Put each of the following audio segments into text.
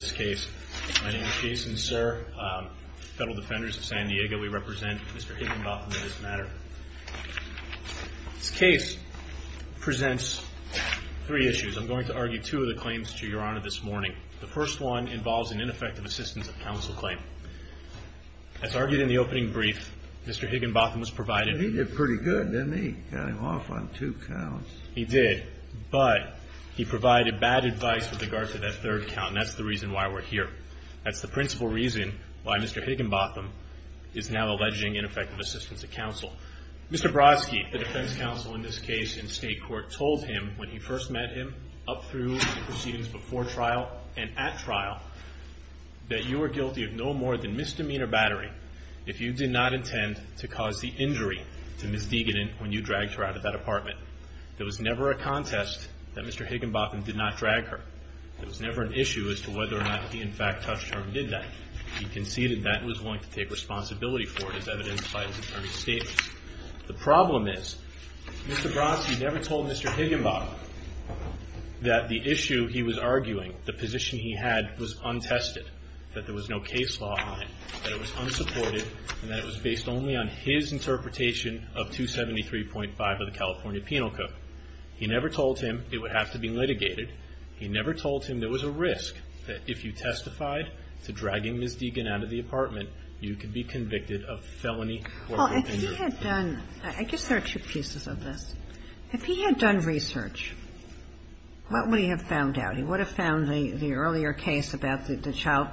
case. My name is Jason, sir. Federal defenders of San Diego, we represent Mr. Higginbotham on this matter. This case presents three issues. I'm going to argue two of the claims to your honor this morning. The first one involves an ineffective assistance of counsel claim. As argued in the opening brief, Mr. Higginbotham was provided… And he did pretty good, didn't he? Got him off on two counts. He did, but he provided bad advice with regard to that third count and that's the reason why we're here today. That's the principal reason why Mr. Higginbotham is now alleging ineffective assistance of counsel. Mr. Brodsky, the defense counsel in this case in state court, told him when he first met him up through the proceedings before trial and at trial that you were guilty of no more than misdemeanor battering if you did not intend to cause the injury to Ms. Degan when you dragged her out of that apartment. There was never a contest that Mr. Higginbotham did not drag her. There was never an issue as to whether or not he in fact touched her and did that. He conceded that and was willing to take responsibility for it as evidenced by his attorney's statement. The problem is Mr. Brodsky never told Mr. Higginbotham that the issue he was arguing, the position he had, was untested, that there was no case law on it, that it was unsupported, and that it was based only on his interpretation of 273.5 of the California Penal Code. He never told him it would have to be litigated. He never told him there was a risk that if you testified to dragging Ms. Degan out of the apartment, you could be convicted of felony or continuing to do it. Kagan I guess there are two pieces of this. If he had done research, what would he have found out? He would have found the earlier case about the child.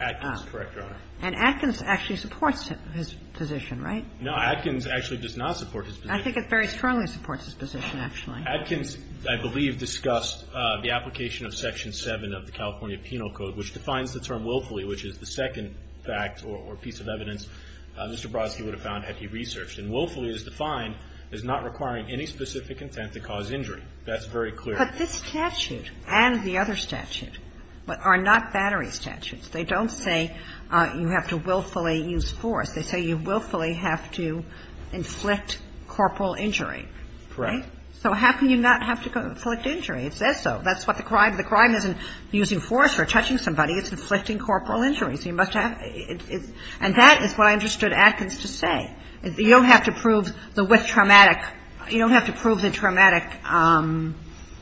Waxman Correct, Your Honor. Kagan And Atkins actually supports his position, right? Waxman No. Atkins actually does not support his position. Kagan I think it very strongly supports his position, actually. Waxman Atkins, I believe, discussed the application of Section 7 of the California Penal Code, which defines the term willfully, which is the second fact or piece of evidence Mr. Brodsky would have found had he researched. And willfully is defined as not requiring any specific intent to cause injury. That's very clear. Kagan But this statute and the other statute are not battery statutes. They don't say you have to willfully use force. They say you willfully have to inflict corporal injury. Waxman Correct. Kagan So how can you not have to inflict injury? It says so. That's what the crime is. The crime isn't using force or touching somebody. It's inflicting corporal injury. So you must have – and that is what I understood Atkins to say. You don't have to prove the with traumatic – you don't have to prove the traumatic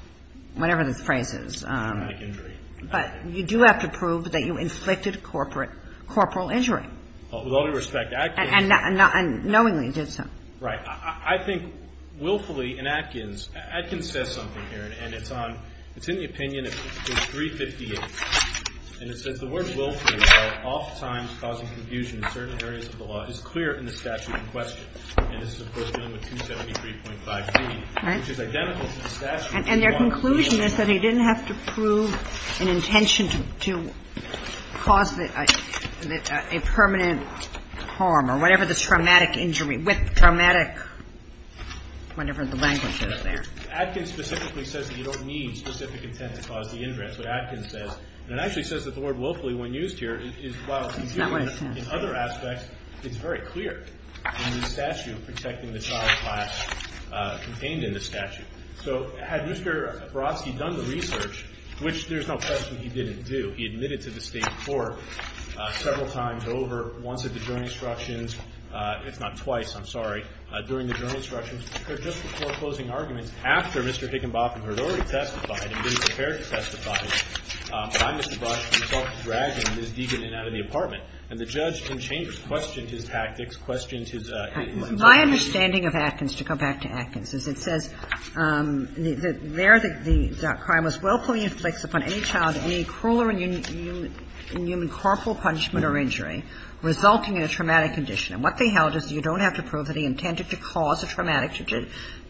– whatever the phrase is. But you do have to prove that you inflicted corporal injury. Waxman With all due respect, Atkins – Kagan And knowingly did so. Waxman Right. I think willfully in Atkins – Atkins says something here, and it's on – it's in the opinion of page 358. And it says the word willfully are oftentimes causing confusion in certain areas of the law. It's clear in the statute in question. And this is, of course, dealing with 273.5b, which is identical to the statute in the warrant. Kagan And their conclusion is that he didn't have to prove an intention to cause a permanent harm or whatever the traumatic injury – with traumatic – whatever the language is there. Waxman Atkins specifically says that you don't need specific intent to cause the injury. That's what Atkins says. And it actually says that the word willfully, when used here, is – while – Kagan It's not what it says. Waxman In other aspects, it's very clear in the statute protecting the child class contained in the statute. So had Mr. Barofsky done the research, which there's no question he didn't do – he several times over, once at the jury instructions – it's not twice, I'm sorry – during the jury instructions, or just before closing arguments, after Mr. Higginbotham had already testified and was prepared to testify by Mr. Barofsky, he started dragging Ms. Deegan in and out of the apartment. And the judge in Chambers questioned his tactics, questioned his – Kagan My understanding of Atkins, to go back to Atkins, is it says there the crime was willfully inflicts upon any child any cruel or inhuman corporal punishment or injury resulting in a traumatic condition. And what they held is you don't have to prove that he intended to cause a traumatic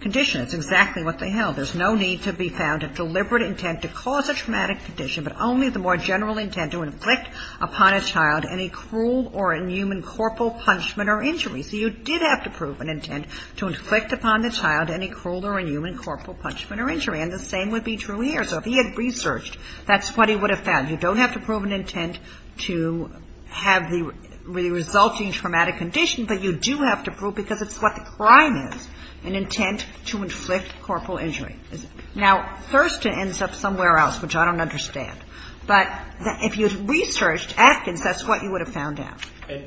condition. It's exactly what they held. There's no need to be found of deliberate intent to cause a traumatic condition, but only the more general intent to inflict upon a child any cruel or inhuman corporal punishment or injury. So you did have to prove an intent to inflict upon the child any cruel or inhuman corporal punishment or injury. And the same would be true here. So if he had researched, that's what he would have found. You don't have to prove an intent to have the resulting traumatic condition, but you do have to prove, because it's what the crime is, an intent to inflict corporal injury. Now, Thurston ends up somewhere else, which I don't understand. But if you had researched Atkins, that's what you would have found out.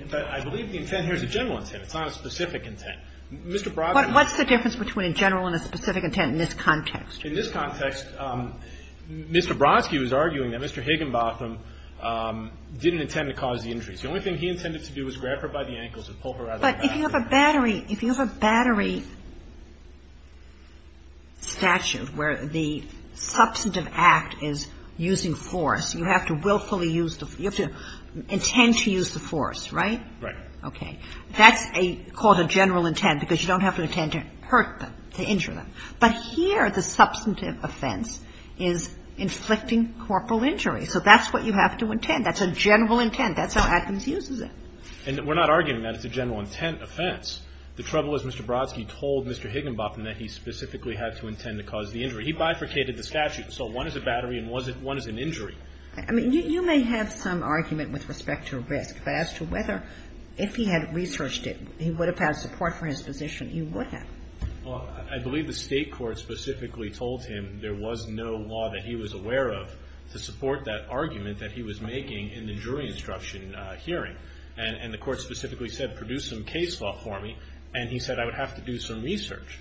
But I believe the intent here is a general intent. It's not a specific intent. Mr. Brodman was the one who said that. But what's the difference between a general and a specific intent in this context? In this context, Mr. Brodsky was arguing that Mr. Higginbotham didn't intend to cause the injuries. The only thing he intended to do was grab her by the ankles and pull her out of the bathroom. But if you have a battery statute where the substantive act is using force, you have to willfully use the – you have to intend to use the force, right? Right. Okay. That's called a general intent because you don't have to intend to hurt them, to injure them. But here, the substantive offense is inflicting corporal injury. So that's what you have to intend. That's a general intent. That's how Atkins uses it. And we're not arguing that it's a general intent offense. The trouble is Mr. Brodsky told Mr. Higginbotham that he specifically had to intend to cause the injury. He bifurcated the statute. So one is a battery and one is an injury. I mean, you may have some argument with respect to risk, but as to whether if he had researched it, he would have had support for his position, he would have. Well, I believe the State court specifically told him there was no law that he was aware of to support that argument that he was making in the jury instruction hearing. And the court specifically said, produce some case law for me. And he said, I would have to do some research.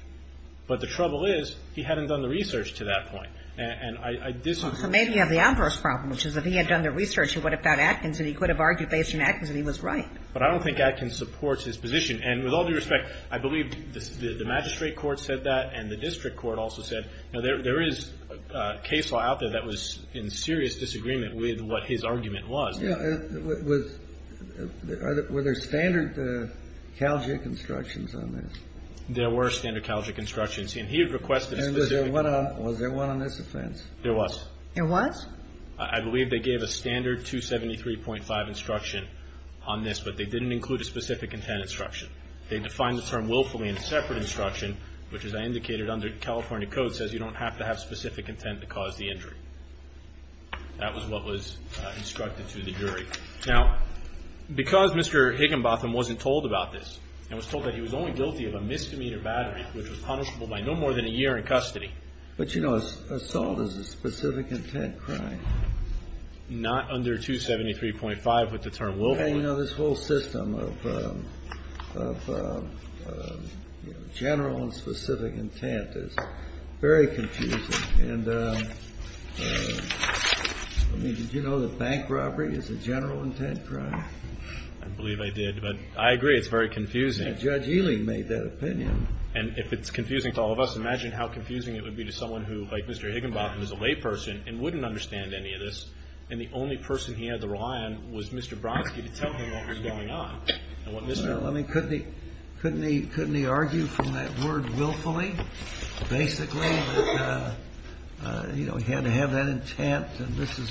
But the trouble is, he hadn't done the research to that point. And I disagree. So maybe you have the adverse problem, which is if he had done the research, he would have found Atkins and he could have argued based on Atkins and he was right. But I don't think Atkins supports his position. And with all due respect, I believe the magistrate court said that and the district court also said, you know, there is a case law out there that was in serious disagreement with what his argument was. Yeah, was, were there standard CalGIC instructions on this? There were standard CalGIC instructions. And he had requested a specific one. Was there one on this offense? There was. There was? I believe they gave a standard 273.5 instruction on this, but they didn't include a specific intent instruction. They defined the term willfully in a separate instruction, which, as I indicated, under California code, says you don't have to have specific intent to cause the injury. That was what was instructed to the jury. Now, because Mr. Higginbotham wasn't told about this and was told that he was only guilty of a misdemeanor battery, which was punishable by no more than a year in custody. But you know, assault is a specific intent crime. Not under 273.5 with the term willfully. Yeah, you know, this whole system of, of, you know, general and specific intent is very confusing. And, I mean, did you know that bank robbery is a general intent crime? I believe I did, but I agree, it's very confusing. Judge Ely made that opinion. And if it's confusing to all of us, imagine how confusing it would be to someone who, like Mr. Higginbotham, is a layperson and wouldn't understand any of this, and the only person he had to rely on was Mr. Brodsky to tell him what was going on. I mean, couldn't he, couldn't he, couldn't he argue from that word willfully, basically? You know, he had to have that intent, and this is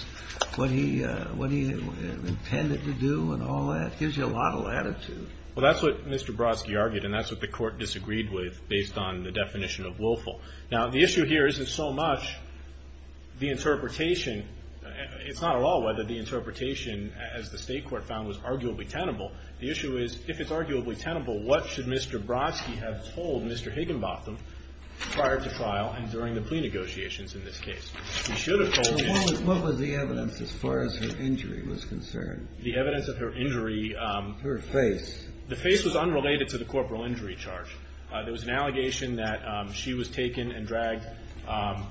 what he, what he intended to do and all that. Gives you a lot of latitude. Well, that's what Mr. Brodsky argued, and that's what the court disagreed with based on the definition of willful. Now, the issue here isn't so much the interpretation. It's not at all whether the interpretation, as the state court found, was arguably tenable. The issue is, if it's arguably tenable, what should Mr. Brodsky have told Mr. Higginbotham prior to trial and during the plea negotiations in this case? He should have told him. What was the evidence as far as her injury was concerned? The evidence of her injury. Her face. The face was unrelated to the corporal injury charge. There was an allegation that she was taken and dragged by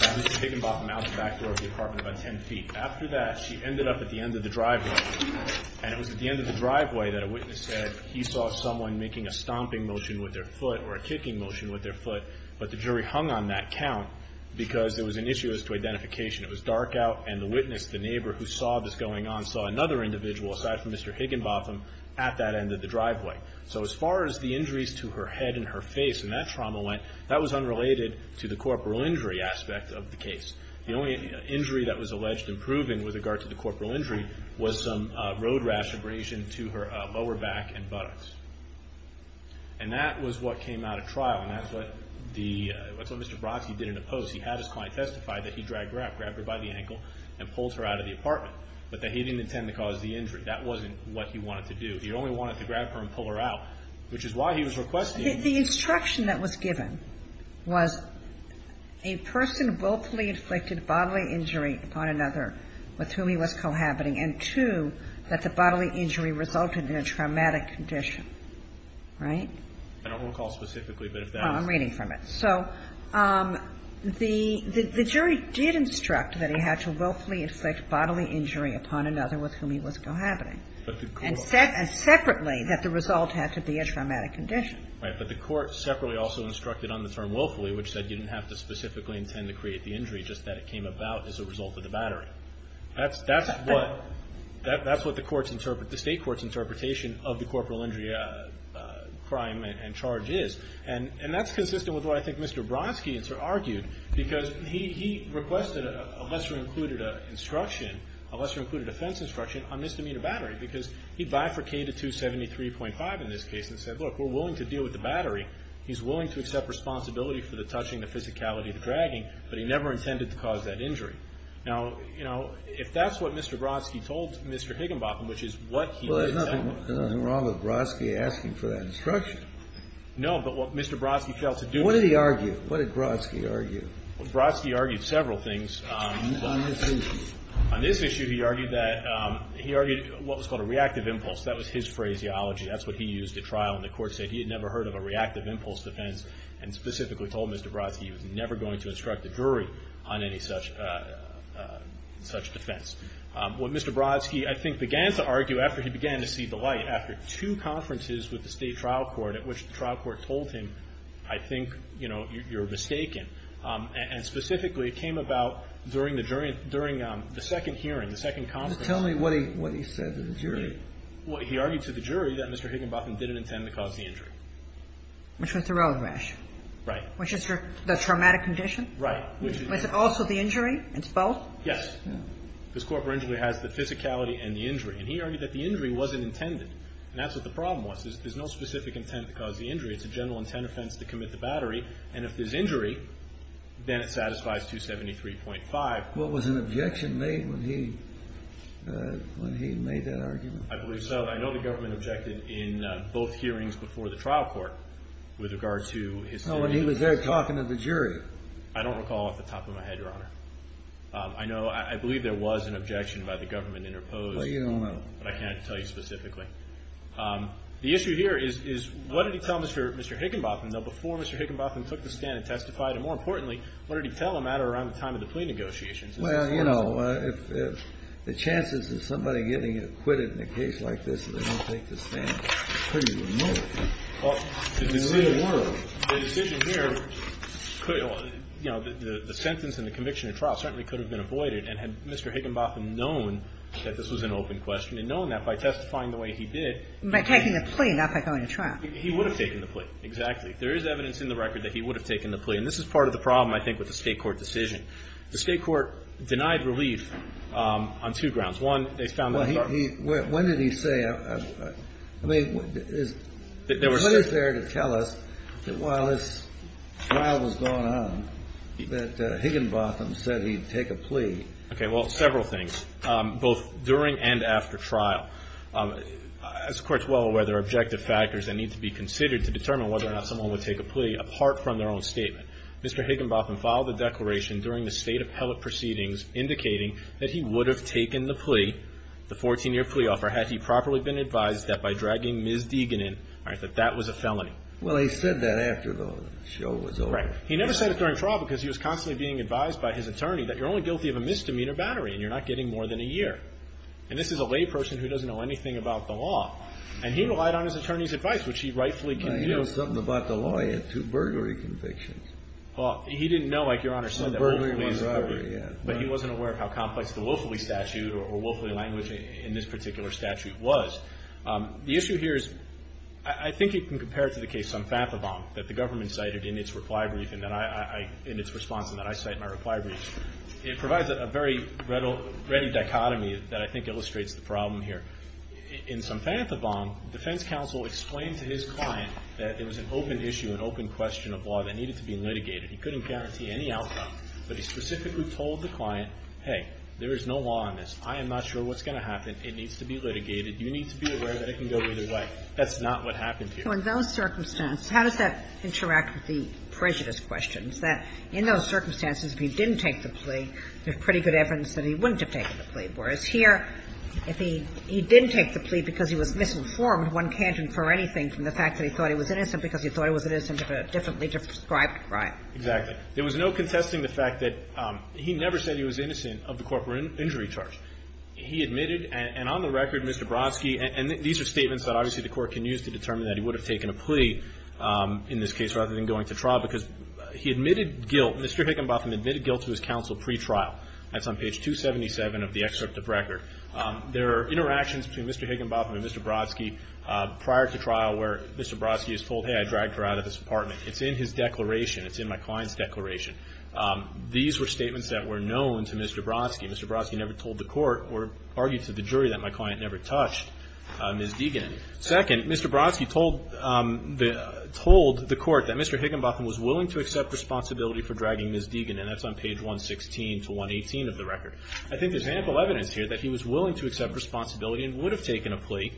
Mr. Higginbotham out the back door of the apartment about ten feet. After that, she ended up at the end of the driveway. And it was at the end of the driveway that a witness said he saw someone making a stomping motion with their foot, or a kicking motion with their foot. But the jury hung on that count because there was an issue as to identification. It was dark out, and the witness, the neighbor who saw this going on, saw another individual, aside from Mr. Higginbotham, at that end of the driveway. So as far as the injuries to her head and her face and that trauma went, that was unrelated to the corporal injury aspect of the case. The only injury that was alleged and proven with regard to the corporal injury was some road rash abrasion to her lower back and buttocks. And that was what came out of trial, and that's what Mr. Brodsky did in the post. He had his client testify that he dragged her up, grabbed her by the ankle, and pulled her out of the apartment. But that he didn't intend to cause the injury. That wasn't what he wanted to do. He only wanted to grab her and pull her out, which is why he was requesting. The instruction that was given was a person willfully inflicted bodily injury upon another with whom he was cohabiting, and two, that the bodily injury resulted in a traumatic condition, right? I don't recall specifically, but if that was. Oh, I'm reading from it. So the jury did instruct that he had to willfully inflict bodily injury upon another with whom he was cohabiting. And separately, that the result had to be a traumatic condition. Right, but the court separately also instructed on the term willfully, which said you didn't have to specifically intend to create the injury, just that it came about as a result of the battery. That's what the state court's interpretation of the corporal injury crime and charge is, and that's consistent with what I think Mr. Brodsky argued, because he requested a lesser included instruction, a lesser included offense instruction, on misdemeanor battery. Because he bifurcated 273.5 in this case and said, look, we're willing to deal with the battery. He's willing to accept responsibility for the touching, the physicality, the dragging, but he never intended to cause that injury. Now, you know, if that's what Mr. Brodsky told Mr. Higginbotham, which is what he said. Well, there's nothing wrong with Brodsky asking for that instruction. No, but what Mr. Brodsky failed to do. What did he argue? What did Brodsky argue? Brodsky argued several things. On this issue. He argued that, he argued what was called a reactive impulse. That was his phraseology. That's what he used at trial, and the court said he had never heard of a reactive impulse defense, and specifically told Mr. Brodsky he was never going to instruct a jury on any such, such defense. What Mr. Brodsky, I think, began to argue after he began to see the light, after two conferences with the state trial court, at which the trial court told him, I think, you know, you're mistaken. And specifically, it came about during the jury, during the second hearing, the second conference. Just tell me what he, what he said to the jury. Well, he argued to the jury that Mr. Higginbotham didn't intend to cause the injury. Which was the road rash. Right. Which is your, the traumatic condition? Right. Which is also the injury? It's both? Yes. This corporate injury has the physicality and the injury, and he argued that the injury wasn't intended, and that's what the problem was. There's no specific intent to cause the injury. It's a general intent offense to commit the battery. And if there's injury, then it satisfies 273.5. What was an objection made when he, when he made that argument? I believe so. I know the government objected in both hearings before the trial court with regard to his... No, when he was there talking to the jury. I don't recall off the top of my head, Your Honor. I know, I believe there was an objection by the government interposed. Well, you don't know. But I can't tell you specifically. The issue here is, is what did he tell Mr. Higginbotham? Now, before Mr. Higginbotham took the stand and testified, and more importantly, what did he tell him at or around the time of the plea negotiations? Well, you know, if, if the chances of somebody getting acquitted in a case like this is they don't take the stand is pretty remote in the real world. The decision here could, you know, the sentence and the conviction of trial certainly could have been avoided. And had Mr. Higginbotham known that this was an open question and known that by testifying the way he did... By taking the plea, not by going to trial. He would have taken the plea. Exactly. There is evidence in the record that he would have taken the plea. And this is part of the problem, I think, with the state court decision. The state court denied relief on two grounds. One, they found... Well, he, he, when did he say, I mean, what is there to tell us that while this trial was going on that Higginbotham said he'd take a plea? Okay, well, several things, both during and after trial. As the court is well aware, there are objective factors that need to be considered to determine whether or not someone would take a plea apart from their own statement. Mr. Higginbotham filed a declaration during the state appellate proceedings indicating that he would have taken the plea, the 14-year plea offer, had he properly been advised that by dragging Ms. Deegan in, that that was a felony. Well, he said that after the show was over. He never said it during trial because he was constantly being advised by his attorney that you're only guilty of a misdemeanor battery and you're not getting more than a year. And this is a lay person who doesn't know anything about the law. And he relied on his attorney's advice, which he rightfully can do. Well, he knows something about the law. He had two burglary convictions. Well, he didn't know, like Your Honor said, that one was a burglary, but he wasn't aware of how complex the willfully statute or willfully language in this particular statute was. The issue here is, I think you can compare it to the case on Fathavon that the government cited in its reply brief and that I, I, I, in its response and that I cite in my reply brief. It provides a very ready dichotomy that I think illustrates the problem here. In some Fathavon, defense counsel explained to his client that it was an open issue, an open question of law that needed to be litigated. He couldn't guarantee any outcome, but he specifically told the client, hey, there is no law on this. I am not sure what's going to happen. It needs to be litigated. You need to be aware that it can go either way. That's not what happened here. So in those circumstances, how does that interact with the prejudice questions? That in those circumstances, if he didn't take the plea, there's pretty good evidence that he wouldn't have taken the plea. Whereas here, if he, he didn't take the plea because he was misinformed, one can't infer anything from the fact that he thought he was innocent because he thought he was innocent of a differently described crime. Exactly. There was no contesting the fact that he never said he was innocent of the corporate injury charge. He admitted, and on the record, Mr. Brodsky, and these are statements that obviously the Court can use to determine that he would have taken a plea in this case rather than going to trial, because he admitted guilt, Mr. Higginbotham admitted guilt to his counsel pre-trial. That's on page 277 of the excerpt of record. There are interactions between Mr. Higginbotham and Mr. Brodsky prior to trial where Mr. Brodsky is told, hey, I dragged her out of this apartment. It's in his declaration. It's in my client's declaration. These were statements that were known to Mr. Brodsky. Mr. Brodsky never told the Court or argued to the jury that my client never touched Ms. Deegan. Second, Mr. Brodsky told the Court that Mr. Higginbotham was willing to accept responsibility for dragging Ms. Deegan, and that's on page 116 to 118 of the record. I think there's ample evidence here that he was willing to accept responsibility and would have taken a plea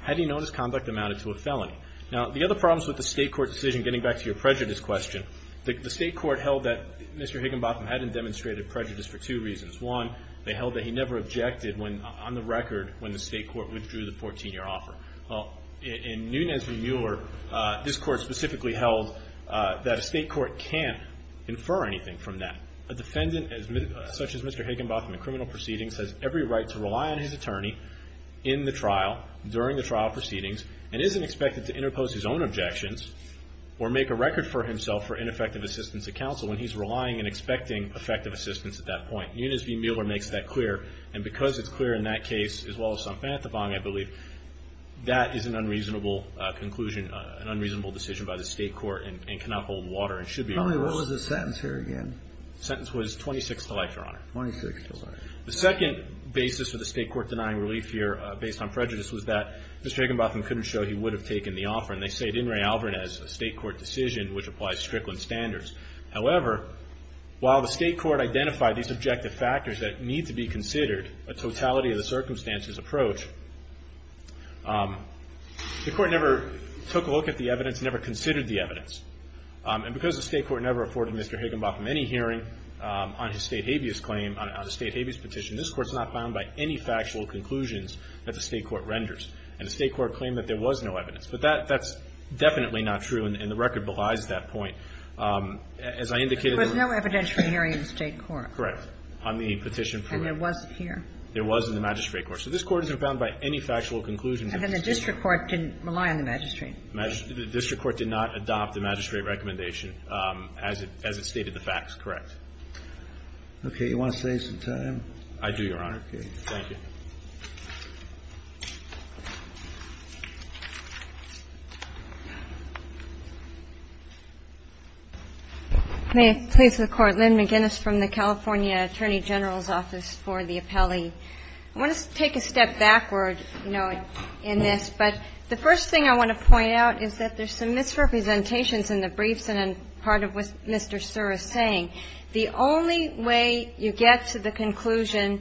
had he known his conduct amounted to a felony. Now, the other problems with the state court decision, getting back to your prejudice question, the state court held that Mr. Higginbotham hadn't demonstrated prejudice for two reasons. One, they held that he never objected on the record when the state court withdrew the 14-year offer. In Nunes v. Mueller, this Court specifically held that a state court can't infer anything from that. A defendant such as Mr. Higginbotham in criminal proceedings has every right to rely on his attorney in the trial, during the trial proceedings, and isn't expected to interpose his own objections or make a record for himself for ineffective assistance to counsel when he's relying and expecting effective assistance at that point. Nunes v. Mueller makes that clear, and because it's clear in that case, as well as Sanfantafang, I believe, that is an unreasonable conclusion, an unreasonable decision by the state court and cannot hold water and should be reversed. What was the sentence here again? The sentence was 26 to life, Your Honor. Twenty-six to life. The second basis for the state court denying relief here, based on prejudice, was that Mr. Higginbotham couldn't show he would have taken the offer, and they stated in Ray Alvarez, a state court decision which applies Strickland standards. However, while the state court identified these objective factors that need to be considered, a totality of the circumstances approach, the court never took a look at the evidence, never considered the evidence. And because the state court never afforded Mr. Higginbotham any hearing on his state habeas claim, on a state habeas petition, this court's not bound by any factual conclusions that the state court renders. And the state court claimed that there was no evidence. But that's definitely not true, and the record belies that point. As I indicated, there was no evidence for hearing in the state court. Correct. On the petition for it. And there wasn't here. There wasn't in the magistrate court. So this court isn't bound by any factual conclusions. And the district court didn't rely on the magistrate. The district court did not adopt the magistrate recommendation as it stated the facts. Correct. You want to save some time? I do, Your Honor. Okay. Thank you. May it please the Court. Lynn McGinnis from the California Attorney General's Office for the Appellee. I want to take a step backward, you know, in this. But the first thing I want to point out is that there's some misrepresentations in the briefs and in part of what Mr. Surr is saying. The only way you get to the conclusion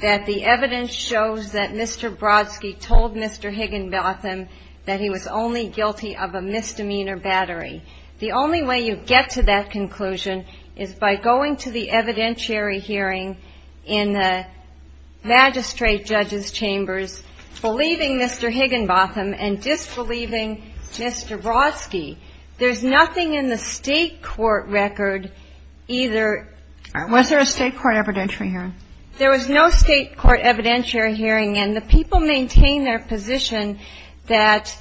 that the evidence shows that Mr. Brodsky told Mr. Higginbotham that he was only guilty of a misdemeanor battery. The only way you get to that conclusion is by going to the evidentiary hearing in the magistrate judge's chambers, believing Mr. Higginbotham and disbelieving Mr. Brodsky. There's nothing in the state court record either. Was there a state court evidentiary hearing? There was no state court evidentiary hearing. And the people maintain their position that,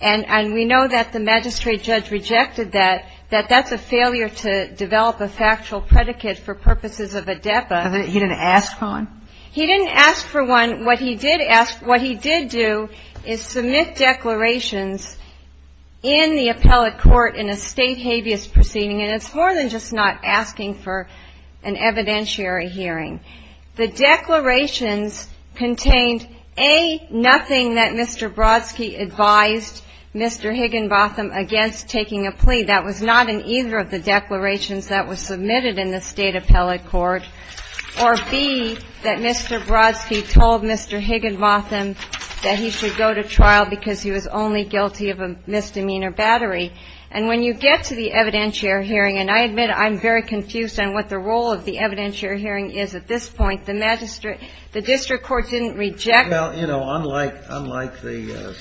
and we know that the magistrate judge rejected that, that that's a failure to develop a factual predicate for purposes of a depa. He didn't ask for one? He didn't ask for one. What he did do is submit declarations in the appellate court in a state habeas proceeding. And it's more than just not asking for an evidentiary hearing. The declarations contained A, nothing that Mr. Brodsky advised Mr. Higginbotham against taking a plea. That was not in either of the declarations that was submitted in the state appellate court. Or B, that Mr. Brodsky told Mr. Higginbotham that he should go to trial because he was only guilty of a misdemeanor battery. And when you get to the evidentiary hearing, and I admit I'm very confused on what the role of the evidentiary hearing is at this point, the magistrate, the district court didn't reject. Well, you know, unlike the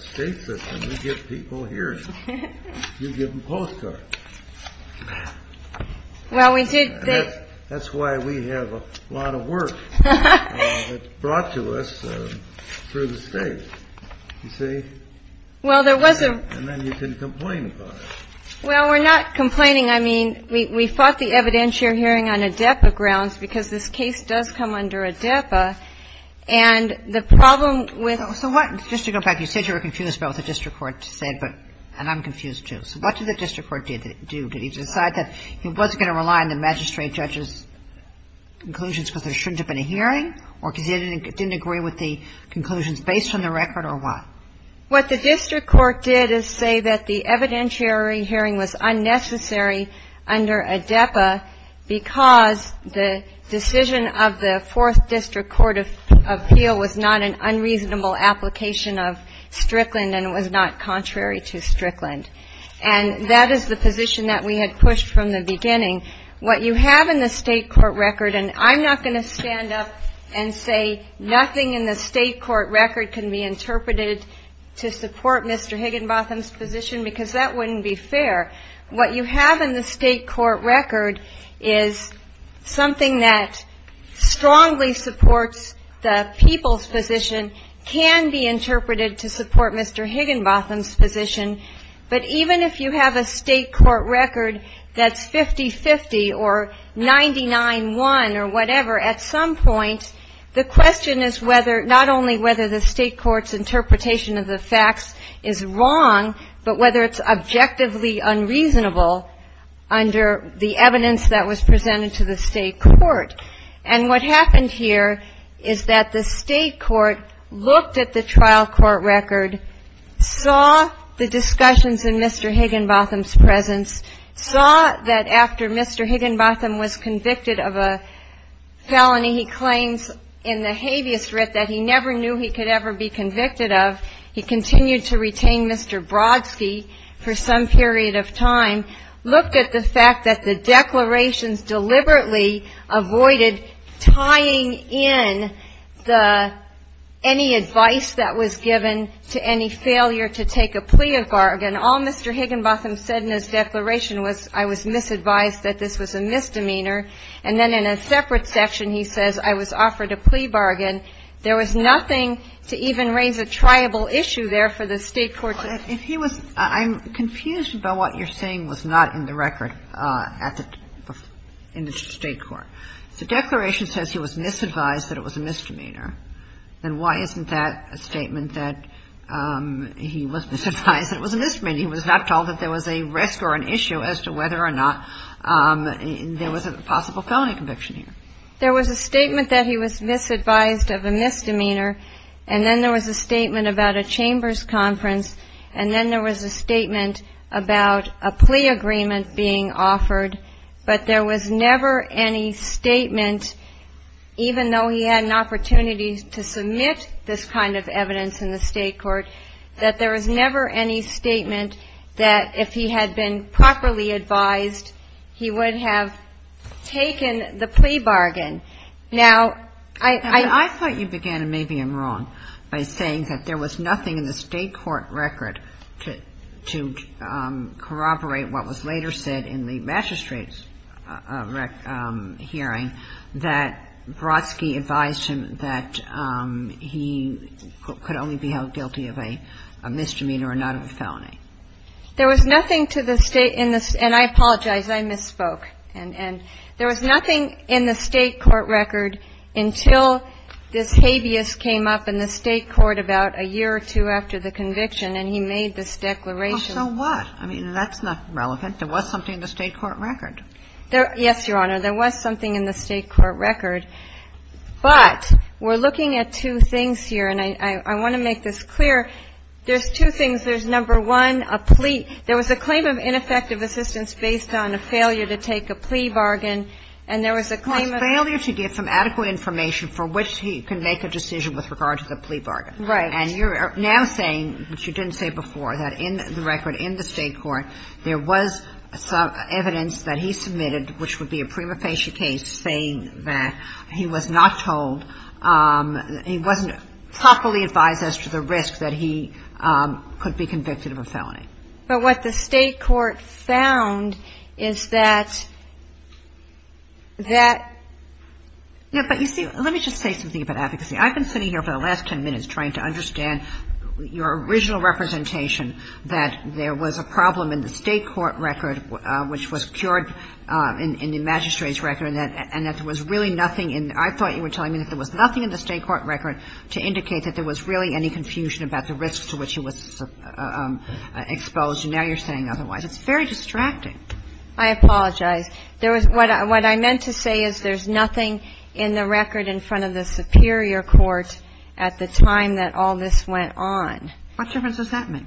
state system, we give people hearings. You give them postcards. Well, we did. That's why we have a lot of work that's brought to us through the state, you see. Well, there was a... And then you can complain about it. Well, we're not complaining. I mean, we fought the evidentiary hearing on ADEPA grounds because this case does come under ADEPA. And the problem with... So what, just to go back, you said you were confused about what the district court said, and I'm confused, too. So what did the district court do? Did he decide that he wasn't going to rely on the magistrate judge's conclusions because there shouldn't have been a hearing or because he didn't agree with the conclusions based on the record or what? What the district court did is say that the evidentiary hearing was unnecessary under ADEPA because the decision of the Fourth District Court of Appeal was not an unreasonable application of Strickland and was not contrary to Strickland. And that is the position that we had pushed from the beginning. What you have in the state court record, and I'm not going to stand up and say nothing in the state court record can be interpreted to support Mr. Higginbotham's position because that wouldn't be fair. What you have in the state court record is something that strongly supports the people's position can be interpreted to support Mr. Higginbotham's position. But even if you have a state court record that's 50-50 or 99-1 or whatever, at some point the question is not only whether the state court's interpretation of the facts is wrong, but whether it's objectively unreasonable under the evidence that was presented to the state court. And what happened here is that the state court looked at the trial court record, saw the discussions in Mr. Higginbotham's presence, saw that after Mr. Higginbotham was convicted of a felony he claims in the habeas writ that he never knew he could ever be convicted of, he continued to retain Mr. Brodsky for some period of time, looked at the fact that the declarations deliberately avoided tying in the any advice that was given to any failure to take a plea of bargain. All Mr. Higginbotham said in his declaration was I was misadvised that this was a misdemeanor. And then in a separate section he says I was offered a plea bargain. There was nothing to even raise a triable issue there for the state court to do. If he was – I'm confused by what you're saying was not in the record at the – in the state court. If the declaration says he was misadvised that it was a misdemeanor, then why isn't that a statement that he was misadvised that it was a misdemeanor? He was not told that there was a risk or an issue as to whether or not there was a possible felony conviction here. There was a statement that he was misadvised of a misdemeanor and then there was a statement about a chambers conference and then there was a statement about a plea agreement being offered, but there was never any statement, even though he had an opportunity to submit this kind of evidence in the state court, that there was never any statement that if he had been properly advised, he would have taken the plea bargain. Now, I – I thought you began, and maybe I'm wrong, by saying that there was nothing in the state court record to corroborate what was later said in the magistrate's hearing that Brodsky advised him that he could only be held guilty of a misdemeanor and not of a felony. There was nothing to the state – and I apologize. I misspoke. And there was nothing in the state court record until this habeas came up in the state court about a year or two after the conviction and he made this declaration. Well, so what? I mean, that's not relevant. There was something in the state court record. Yes, Your Honor. There was something in the state court record, but we're looking at two things here, and I want to make this clear. There's two things. There's, number one, a plea – there was a claim of ineffective assistance based on a failure to take a plea bargain and there was a claim of – Well, it's failure to get some adequate information for which he can make a decision with regard to the plea bargain. Right. And you're now saying, which you didn't say before, that in the record in the state court, there was some evidence that he submitted, which would be a prima facie case, saying that he was not told – he wasn't properly advised as to the risk that he could be convicted of a felony. But what the state court found is that – that – No, but you see, let me just say something about advocacy. I've been sitting here for the last 10 minutes trying to understand your original representation that there was a problem in the state court record which was cured in the magistrate's record and that there was really nothing in – I thought you were telling me that there was nothing in the state court record to indicate that there was really any confusion about the risks to which he was exposed, and now you're saying otherwise. It's very distracting. I apologize. There was – what I meant to say is that there's nothing in the record in front of the superior court at the time that all this went on. What difference does that make?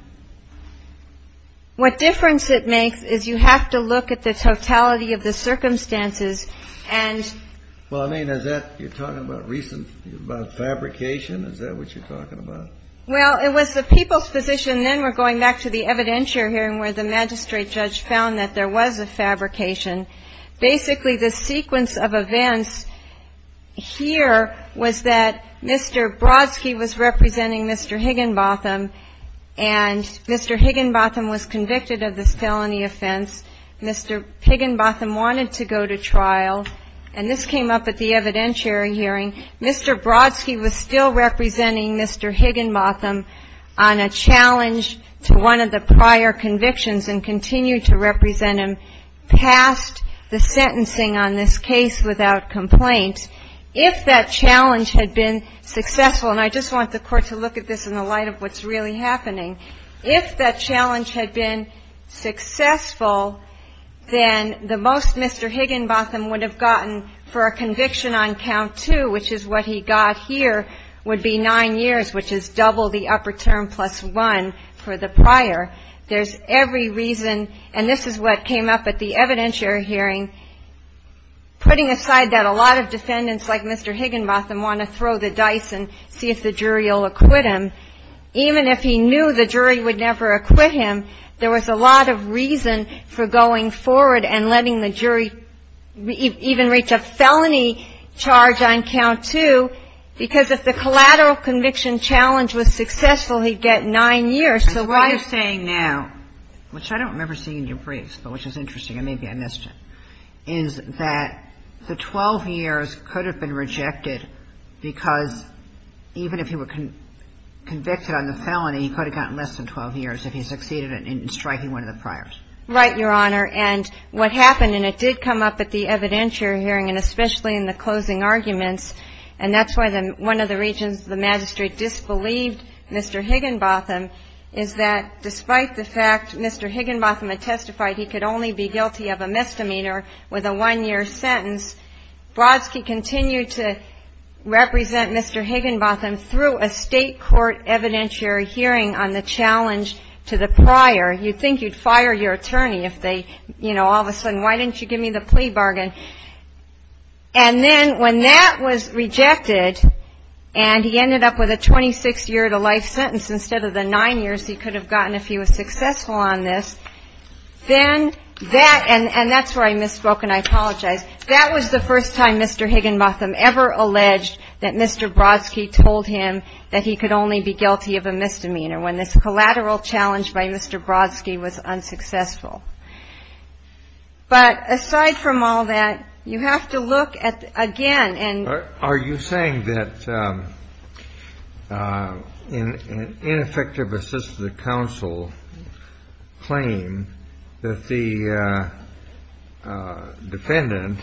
What difference it makes is you have to look at the totality of the circumstances and – Well, I mean, is that – you're talking about recent – about fabrication? Is that what you're talking about? Well, it was the people's position, and then we're going back to the evidentiary hearing where the magistrate judge found that there was a fabrication. Basically, the sequence of events here was that Mr. Brodsky was representing Mr. Higginbotham and Mr. Higginbotham was convicted of this felony offense. Mr. Higginbotham wanted to go to trial, and this came up at the evidentiary hearing. Mr. Brodsky was still representing Mr. Higginbotham on a challenge to one of the prior convictions and continued to represent him past the sentencing on this case without complaint. If that challenge had been successful – and I just want the court to look at this in the light of what's really happening – if that challenge had been successful, then the most Mr. Higginbotham would have gotten for a conviction on count two, which is what he got here, would be nine years, which is double the upper term plus one for the prior. There's every reason – and this is what came up at the evidentiary hearing – putting aside that a lot of defendants like Mr. Higginbotham want to throw the dice and see if the jury will acquit him, even if he knew the jury would never acquit him, there was a lot of reason for going forward and letting the jury even reach a felony charge on count two because if the collateral conviction challenge was successful, he'd get nine years. So what you're saying now, which I don't remember seeing in your briefs, but which is interesting and maybe I missed it, is that the 12 years could have been rejected because even if he were convicted on the felony, he could have gotten less than 12 years if he succeeded in striking one of the priors. Right, Your Honor. And what happened – and it did come up at the evidentiary hearing and especially in the closing arguments – and that's why one of the reasons the magistrate disbelieved Mr. Higginbotham is that despite the fact Mr. Higginbotham had testified he could only be guilty of a misdemeanor with a one-year sentence, Brodsky continued to represent Mr. Higginbotham through a state court evidentiary hearing on the challenge to the prior. You'd think you'd fire your attorney if they, you know, all of a sudden, why didn't you give me the plea bargain? And then when that was rejected and he ended up with a 26-year-to-life sentence instead of the nine years he could have gotten if he was successful on this, then that – and that's where I misspoke and I apologize – that was the first time Mr. Higginbotham ever alleged that Mr. Brodsky told him that he could only be guilty of a misdemeanor when this collateral challenge by Mr. Brodsky was unsuccessful. But aside from all that, you have to look at, again – Are you saying that an ineffective assistant to counsel claim that the defendant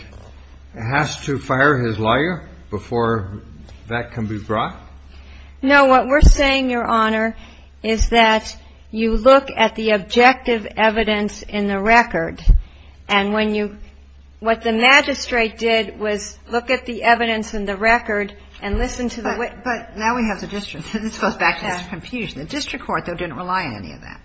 has to fire his lawyer before that can be brought? No, what we're saying, Your Honor, is that you look at the objective evidence in the record and when you – what the magistrate did was look at the evidence in the record and listen to the witness. But now we have the district. This goes back to this confusion. The district court, though, didn't rely on any of that.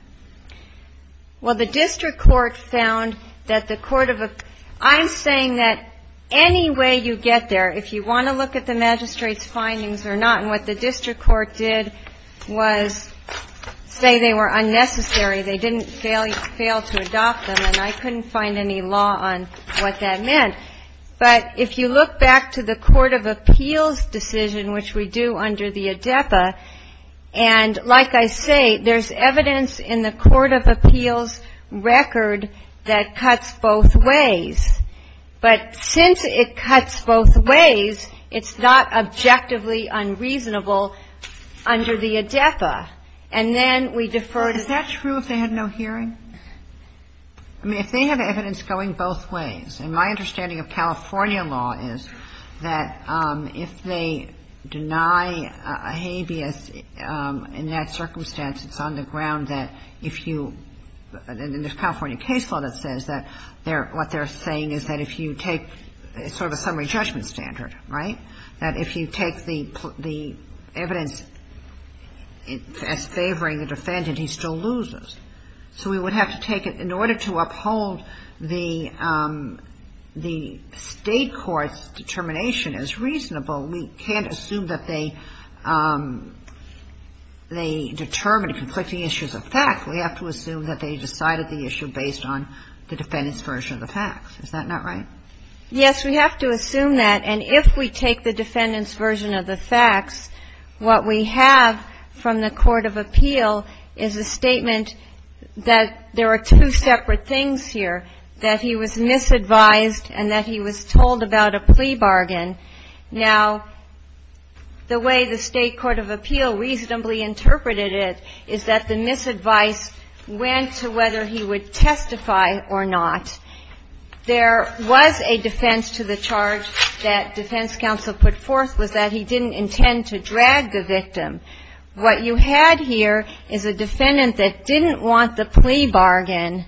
Well, the district court found that the court of – I'm saying that any way you get there, if you want to look at the magistrate's findings or not and what the district court did was say they were unnecessary, they didn't fail to adopt them and I couldn't find any law on what that meant. But if you look back to the court of appeals, this decision which we do under the ADEPA, and like I say, there's evidence in the court of appeals record that cuts both ways. But since it cuts both ways, it's not objectively unreasonable under the ADEPA. And then we defer to – Well, is that true if they had no hearing? I mean, if they have evidence going both ways, and my understanding of California law is that if they deny a habeas in that circumstance, it's on the ground that if you – and there's California case law that says that what they're saying is that if you take sort of a summary judgment standard, right? That if you take the evidence as favoring the defendant, he still loses. So we would have to take it in order to uphold the state court's determination as reasonable. We can't assume that they determined conflicting issues of fact. We have to assume that they decided the issue based on the defendant's version of the facts. Is that not right? Yes, we have to assume that. And if we take the defendant's version of the facts, what we have from the court of appeal is a statement that there are two separate things here. That he was misadvised and that he was told about a plea bargain. Now, the way the state court of appeal reasonably interpreted it is that the misadvice went to whether he would testify or not. There was a defense to the charge that defense counsel put forth was that he didn't intend to drag the victim. What you had here is a defendant that didn't want the plea bargain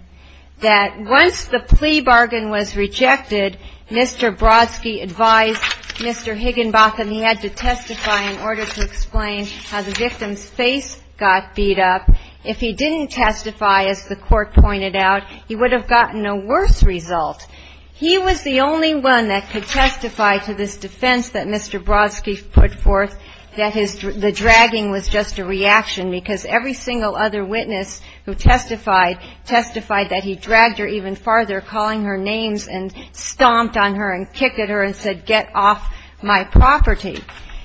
that once the plea bargain was rejected Mr. Brodsky advised Mr. Higginbotham he had to testify in order to explain how the victim's face got beat up. If he didn't testify, as the court pointed out, he would have gotten a worse result. He was the only one that could testify to this defense that Mr. Brodsky put forth that the dragging was just a reaction because every single other witness who testified testified that he dragged her even farther calling her names and stomped on her and kicked at her and said get off my property.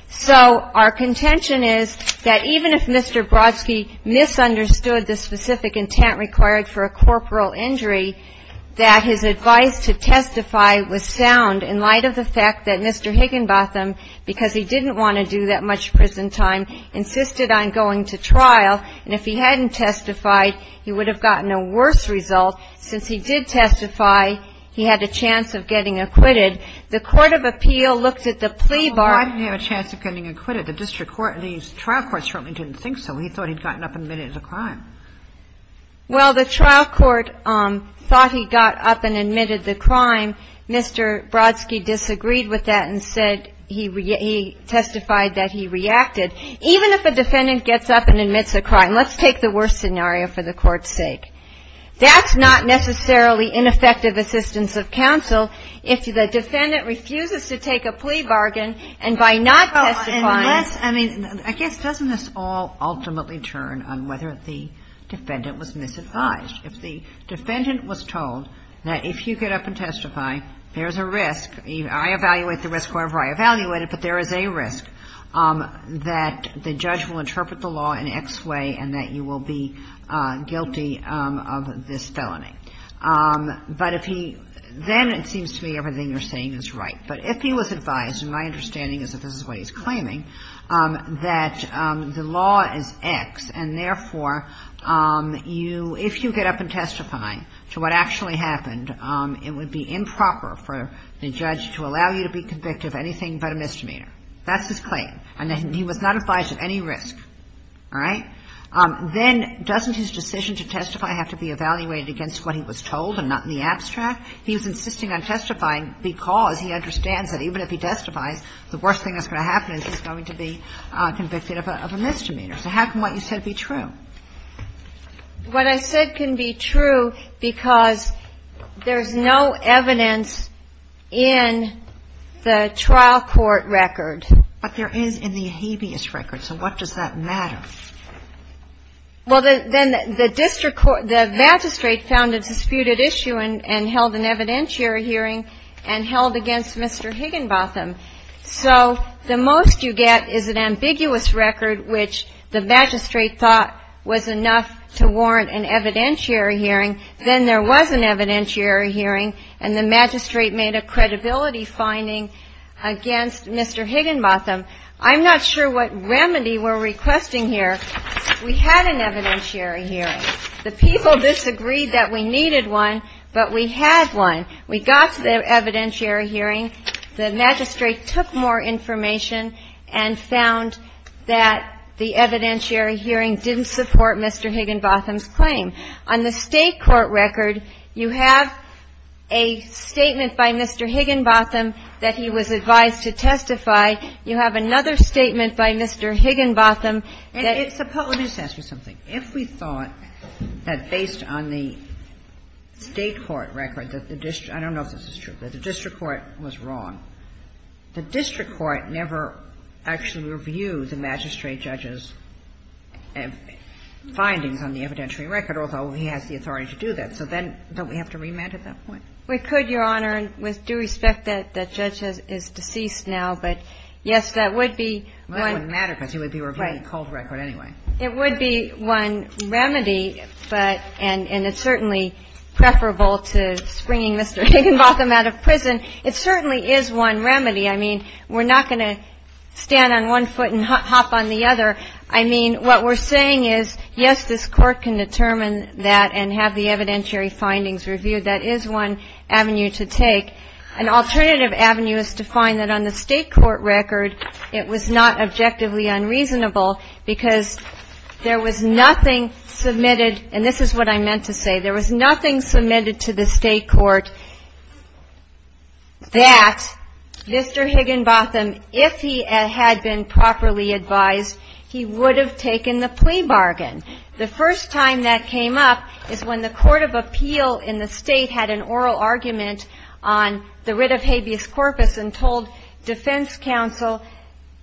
So, our contention is that even if Mr. Brodsky misunderstood the specific intent required for a corporal injury that his advice to testify was sound in light of the fact that Mr. Higginbotham because he didn't want to do that much prison time insisted on going to trial and if he hadn't testified he would have gotten a worse result since he did testify he had a chance of getting acquitted the court of appeal looked at the plea bargain Well, why didn't he have a chance of getting acquitted? The trial court certainly didn't think so he thought he'd gotten up and admitted the crime. Well, the trial court thought he got up and admitted the crime Mr. Brodsky disagreed with that and said he testified that he reacted. Even if a defendant gets up and admits a crime let's take the worst scenario for the court's sake that's not necessarily ineffective assistance of counsel if the defendant refuses to take a plea bargain and by not testifying I guess doesn't this all ultimately turn on whether the defendant was misadvised if the defendant was told that if you get up and testify there's a risk I evaluate the risk however I evaluate it but there is a risk that the judge will interpret the law in X way and that you will be guilty of this felony but if he then it seems to me everything you're saying is right but if he was advised and my understanding is that this is what he's claiming that the law is X and therefore if you get up and testify to what actually happened it would be improper for the judge to allow you to be convicted of anything but a misdemeanor that's his claim and he was not advised of any risk then doesn't his decision to testify have to be evaluated against what he was told and not in the abstract he was insisting on testifying because he understands that even if he testifies the worst thing that's going to happen is he's going to be convicted of a misdemeanor so how can what you said be true what I said can be true because there's no evidence in the trial court record but there is in the habeas record so what does that matter well then the district court the magistrate found a disputed issue and held an evidentiary hearing and held against Mr. Higginbotham so the most you get is an if the magistrate thought was enough to warrant an evidentiary hearing then there was an evidentiary hearing and the magistrate made a credibility finding against Mr. Higginbotham I'm not sure what remedy we're requesting here we had an evidentiary hearing the people disagreed that we needed one but we had one we got the evidentiary hearing the magistrate took more information and found that the evidentiary hearing didn't support Mr. Higginbotham's claim on the state court record you have a statement by Mr. Higginbotham that he was advised to testify you have another statement by Mr. Higginbotham and it's suppose if we thought that based on the state court record that the district I don't know if this is true but the district court was wrong the district court never actually reviewed the magistrate judge's findings on the evidentiary record although he has the authority to do that so then don't we have to remand at that point we could your honor with due respect that judge is deceased now but yes that would be it wouldn't matter because he would be reviewing the cold record anyway it would be one remedy but and it's certainly preferable to springing Mr. Higginbotham out of prison it certainly is one remedy I mean we're not gonna stand on one foot and hop on the other I mean what we're saying is yes this court can determine that and have the evidentiary findings reviewed that is one avenue to take an alternative avenue is to find that on the state court record it was not objectively unreasonable because there was nothing submitted and this is what I meant to say there was nothing submitted to the state court that Mr. Higginbotham if he had been properly advised he would have taken the plea bargain the first time that came up is when the court of appeal in the state had an oral argument on the writ of habeas corpus and told defense counsel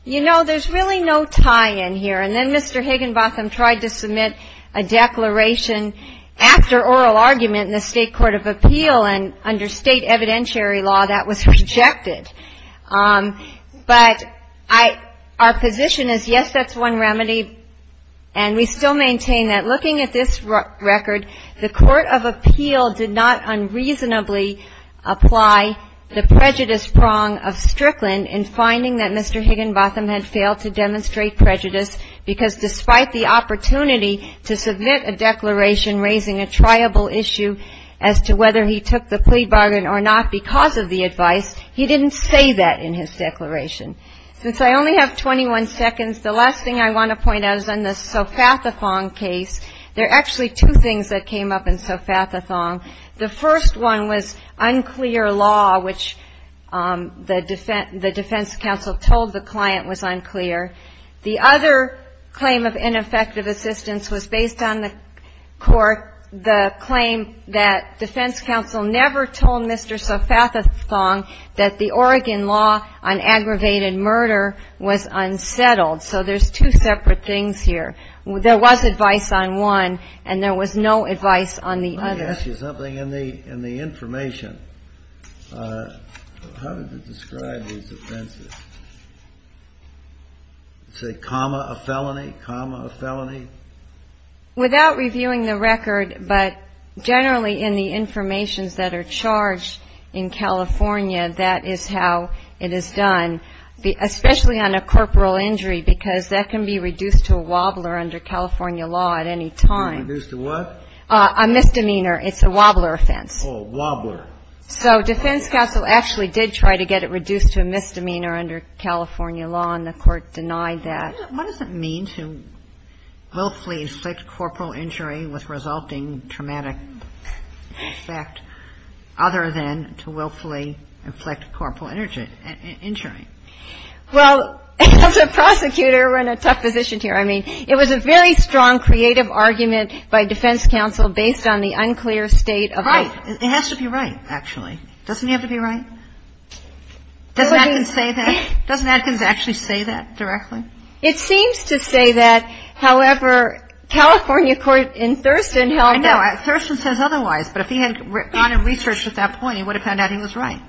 you know there's really no tie in here and then Mr. Higginbotham tried to submit a declaration after oral argument in the state court of appeal and under state evidentiary law that was rejected but our position is yes that's one remedy and we still maintain that looking at this record the court of appeal did not unreasonably apply the prejudice prong of Strickland in finding that Mr. Higginbotham had failed to demonstrate prejudice because despite the opportunity to submit a as to whether he took the plea bargain or not because of the advice he didn't say that in his declaration since I only have 21 seconds the last thing I want to point out is on the sofathathong case there are actually two things that came up in sofathathong the first one was unclear law which the defense counsel told the client was unclear the other claim of ineffective assistance was based on the court the claim that defense counsel never told Mr. sofathathong that the Oregon law on aggravated murder was unsettled so there's two separate things here there was advice on one and there was no advice on the other let me ask you something in the information how do you describe these offenses say comma a felony comma a felony without reviewing the record but generally in the information that are charged in California that is how it is done especially on a corporal injury because that can be reduced to a wobbler under California law at any time a misdemeanor it's a wobbler offense so defense counsel actually did try to get it reduced to a misdemeanor under California law and the court denied that what does it mean to willfully inflict corporal injury with resulting traumatic effect other than to willfully inflict corporal injury well as a prosecutor we're in a tough position here it was a very strong creative argument by defense counsel based on the unclear state it has to be right actually doesn't it have to be right doesn't Adkins say that doesn't Adkins actually say that directly it seems to say that however California court in Thurston Thurston says otherwise but if he had gone and researched at that point he would have found out he was right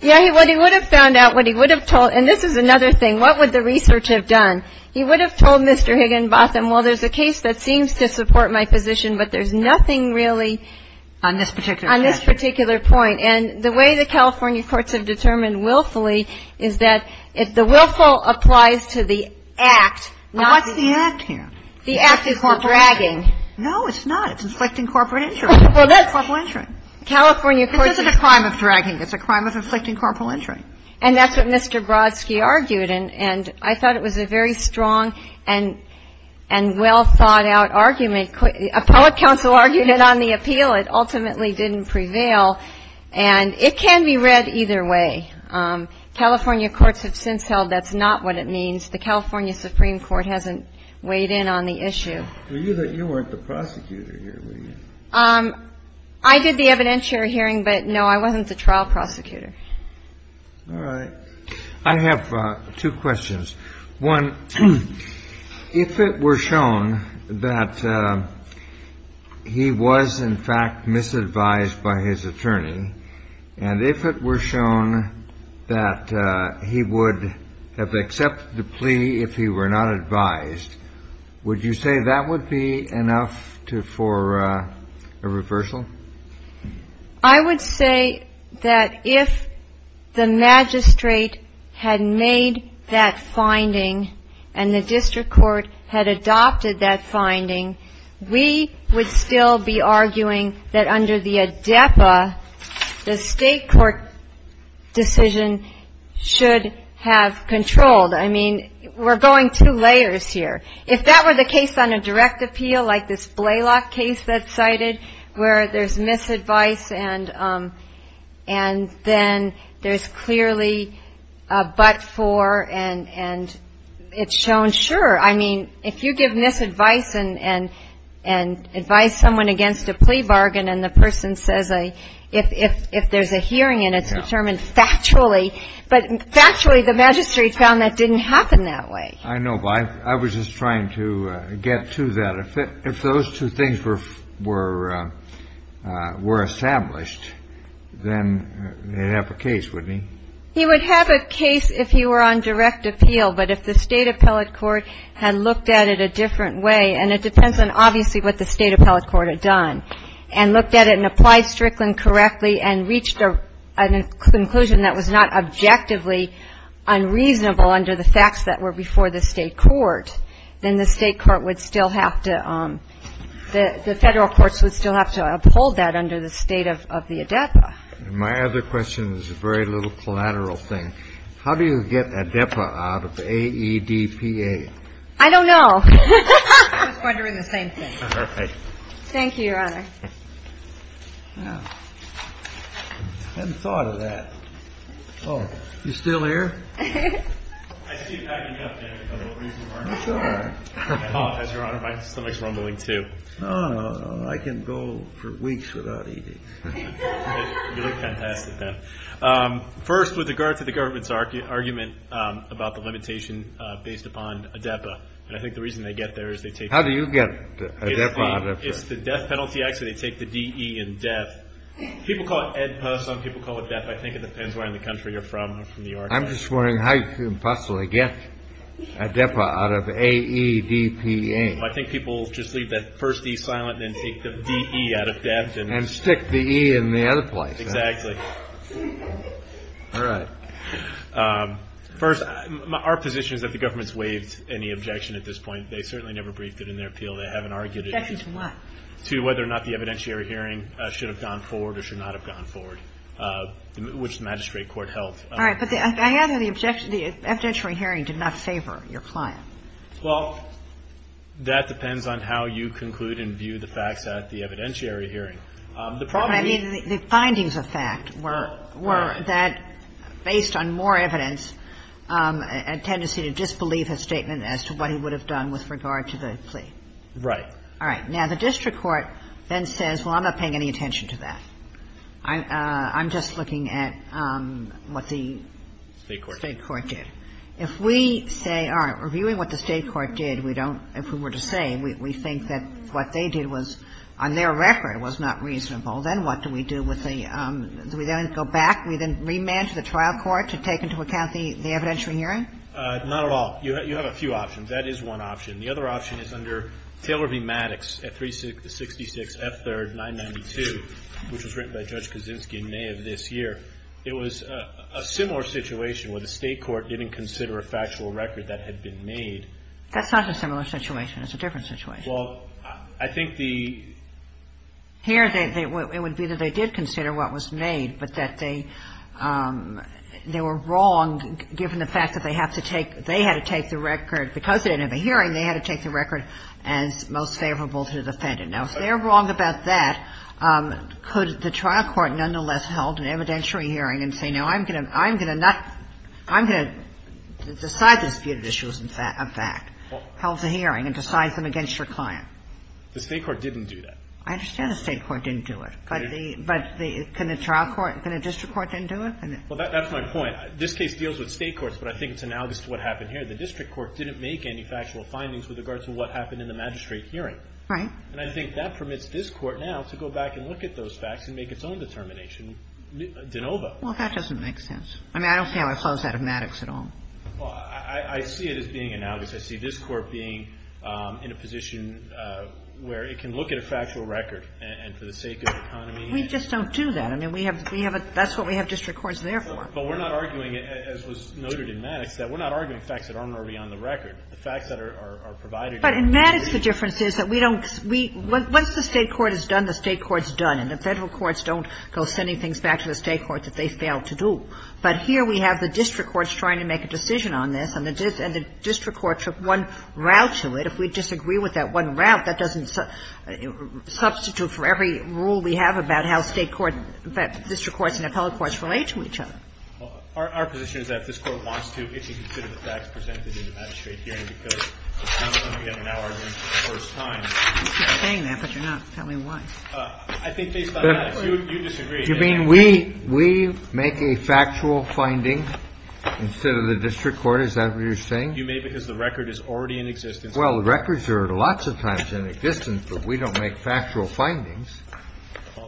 he would have found out and this is another thing what would the research have done he would have told Mr. Higginbotham well there's a case that seems to support my position but there's nothing really on this particular point and the way the California courts have determined willfully is that the willful applies to the what's the act here the act is the dragging no it's not it's inflicting corporal injury it isn't a crime of dragging it's a crime of inflicting corporal injury and that's what Mr. Brodsky argued and I thought it was a very strong and well thought out argument appellate counsel argued it on the appeal it ultimately didn't prevail and it can be read either way California courts have since held that's not what it means the California Supreme Court hasn't weighed in on the issue you weren't the prosecutor here were you I did the evidentiary hearing but no I wasn't the trial prosecutor alright I have two questions one if it were shown that he was in fact misadvised by his attorney and if it were shown that he would have accepted the plea if he were not advised would you say that would be enough for a reversal I would say that if the magistrate had made that finding and the district court had adopted that finding we would still be arguing that under the ADEPA the state court decision should have controlled I mean we're going two layers here if that were the case on a direct appeal like this Blaylock case that's cited where there's misadvice and then there's clearly a but for and it's shown sure I mean if you give misadvice and advise someone against a plea bargain and the person says if there's a hearing and it's determined factually but factually the magistrate found that didn't happen that way I was just trying to get to that if those two things were were established then they'd have a case wouldn't he he would have a case if he were on direct appeal but if the state appellate court had looked at it a different way and it depends on obviously what the state appellate court had done and looked at it and applied Strickland correctly and reached a conclusion that was not objectively unreasonable under the facts that were before the state court then the state court would still have to the federal courts would still have to uphold that under the state of the ADEPA my other question is a very little collateral thing how do you get ADEPA out of AEDPA I don't know I was wondering the same thing thank you your honor hadn't thought of that oh you still here I see you packing up as your honor my stomach is rumbling too no no no I can go for weeks without eating you look fantastic then first with regard to the government argument about the limitation based upon ADEPA I think the reason they get there is they take how do you get ADEPA out of it it's the death penalty actually they take the D.E. in death people call it ADEPA some people call it death I think it depends where in the country you're from or from New York I'm just wondering how you can possibly get ADEPA out of AEDPA I think people just leave that first E silent then take the D.E. out of death and stick the E in the other place exactly alright first our position is that the government has waived any objection at this point they certainly never briefed it in their appeal they haven't argued it to whether or not the evidentiary hearing should have gone forward or should not have gone forward which the magistrate court held I have the objection the evidentiary hearing did not favor your client well that depends on how you conclude and view the facts at the evidentiary hearing the findings of fact were that based on more evidence a tendency to disbelieve his statement as to what he would have done with regard to the plea now the district court then says well I'm not paying any attention to that I'm just looking at what the state court did if we say alright reviewing what the state court did if we were to say we think that what they did was on their record was not reasonable then what do we do we then go back we then remand to the trial court to take into account the evidentiary hearing not at all you have a few options that is one option the other option is under Taylor v. Maddox at 366 F3rd 992 which was written by Judge Kaczynski in May of this year it was a similar situation where the state court didn't consider a factual record that had been made that's not a similar situation it's a different situation I think the it would be that they did consider what was made but that they they were wrong given the fact that they had to take the record because they didn't have a hearing they had to take the record as most favorable to the defendant now if they're wrong about that could the trial court nonetheless hold an evidentiary hearing and say no I'm going to decide these disputed issues in fact hold the hearing and decide them against your client the state court didn't do that I understand the state court didn't do it but can the trial court can a district court then do it well that's my point this case deals with state courts but I think it's analogous to what happened here the district court didn't make any factual findings with regards to what happened in the magistrate hearing and I think that permits this court now to go back and look at those facts and make its own determination well that doesn't make sense I mean I don't see how it flows out of Maddox at all well I see it as being analogous I see this court being in a position where it can look at a factual record and for the sake of economy we just don't do that that's what we have district courts there for but we're not arguing as was noted in Maddox that we're not arguing facts that aren't already on the record the facts that are provided but in Maddox the difference is once the state court has done the state court's done and the federal courts don't go sending things back to the state court that they failed to do but here we have the district courts trying to make a decision on this and the district court took one route to it if we disagree with that one route that doesn't substitute for every rule we have about how district courts and appellate courts relate to each other our position is that if this court wants to it should consider the facts presented in the magistrate hearing because it's not like we have an argument for the first time you keep saying that but you're not tell me why I think based on Maddox you disagree do you mean we make a factual finding instead of the district court is that what you're saying I think you may because the record is already in existence well the records are lots of times in existence but we don't make factual findings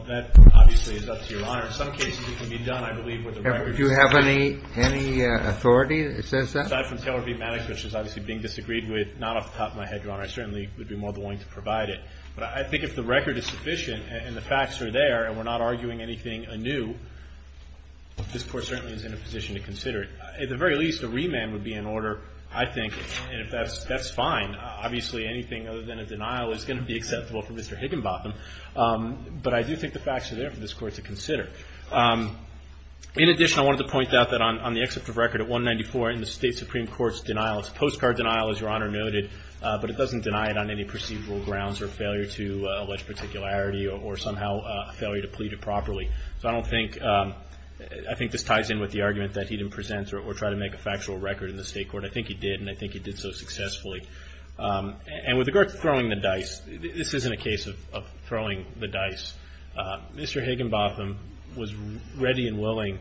that obviously is up to your honor in some cases it can be done do you have any authority that says that aside from Taylor v. Maddox which is obviously being disagreed with not off the top of my head your honor I certainly would be more than willing to provide it but I think if the record is sufficient and the facts are there and we're not arguing anything anew this court certainly is in a position to consider it at the very least a remand would be in order I think and if that's fine obviously anything other than a denial is going to be acceptable for Mr. Higginbotham but I do think the facts are there for this court to consider in addition I wanted to point out that on the except of record at 194 in the state supreme court's denial it's a postcard denial as your honor noted but it doesn't deny it on any perceivable grounds or failure to allege particularity or somehow failure to plead it properly so I don't think I think this ties in with the argument that he didn't present or try to make a factual record in the state court I think he did and I think he did so successfully and with regard to throwing the dice this isn't a case of throwing the dice Mr. Higginbotham was ready and willing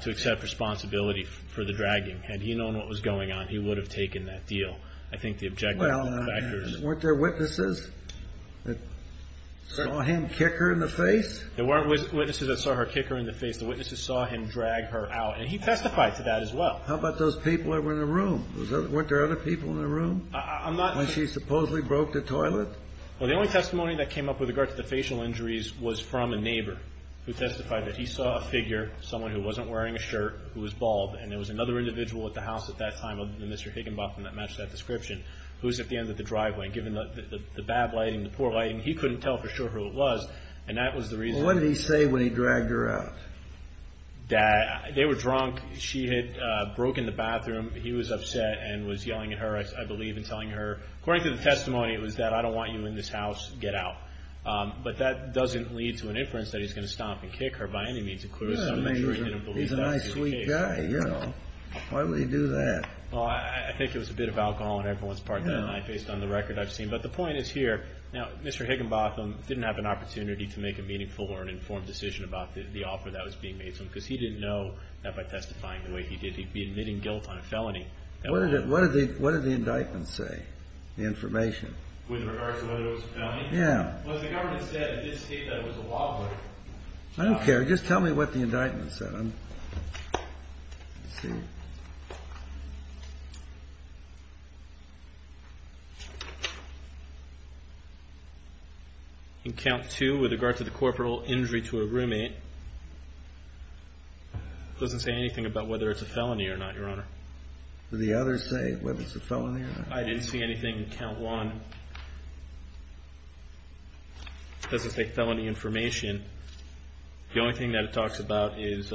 to accept responsibility for the dragging had he known what was going on he would have taken that deal I think the objective factors weren't there witnesses that saw him kick her in the face there weren't witnesses that saw her kick her in the face the witnesses saw him drag her out and he testified to that as well how about those people that were in the room weren't there other people in the room when she supposedly broke the toilet well the only testimony that came up with regard to the facial injuries was from a neighbor who testified that he saw a figure someone who wasn't wearing a shirt who was bald and there was another individual at the house at that time other than Mr. Higginbotham that matched that description who was at the end of the driveway given the bad lighting the poor lighting he couldn't tell for sure who it was and that was the reason what did he say when he dragged her out they were drunk she had broken the bathroom he was upset and was yelling at her according to the testimony it was that I don't want you in this house get out but that doesn't lead to an inference that he's going to stomp and kick her he's a nice sweet guy why would he do that I think it was a bit of alcohol based on the record I've seen but the point is here Mr. Higginbotham didn't have an opportunity to make a meaningful or informed decision about the offer that was being made because he didn't know that by testifying the way he did he'd be admitting guilt on a felony what did the indictment say the information with regard to whether it was a felony the government said it did state that it was a law break I don't care just tell me what the indictment said in count 2 with regard to the corporal injury to a roommate it doesn't say anything about whether it's a felony or not your honor did the others say whether it's a felony or not I didn't see anything in count 1 it doesn't say felony information the only thing that it talks about is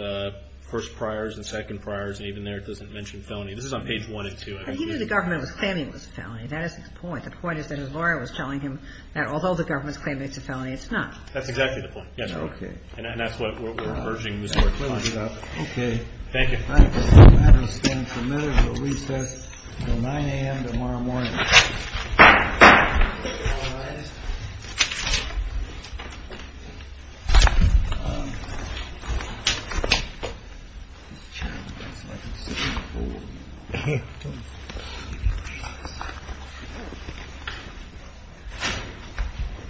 first priors and second priors and even there it doesn't mention felony this is on page 1 and 2 he knew the government was claiming it was a felony that is the point the point is that his lawyer was telling him that although the government is claiming it's a felony it's not that's exactly the point and that's what we're urging Mr. Higginbotham thank you the matter is adjourned until 9am tomorrow morning thank you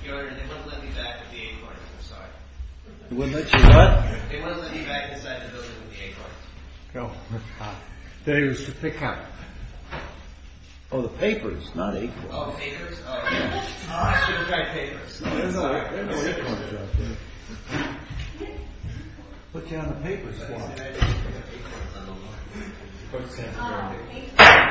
your honor they wouldn't let me back with the acorns I'm sorry they wouldn't let you what they wouldn't let me back inside the building with the acorns oh my god pick up oh the papers not acorns oh the papers there's no acorns out there put you on the papers put you on the papers put you on the papers I have no acorns put you on the papers put you on the papers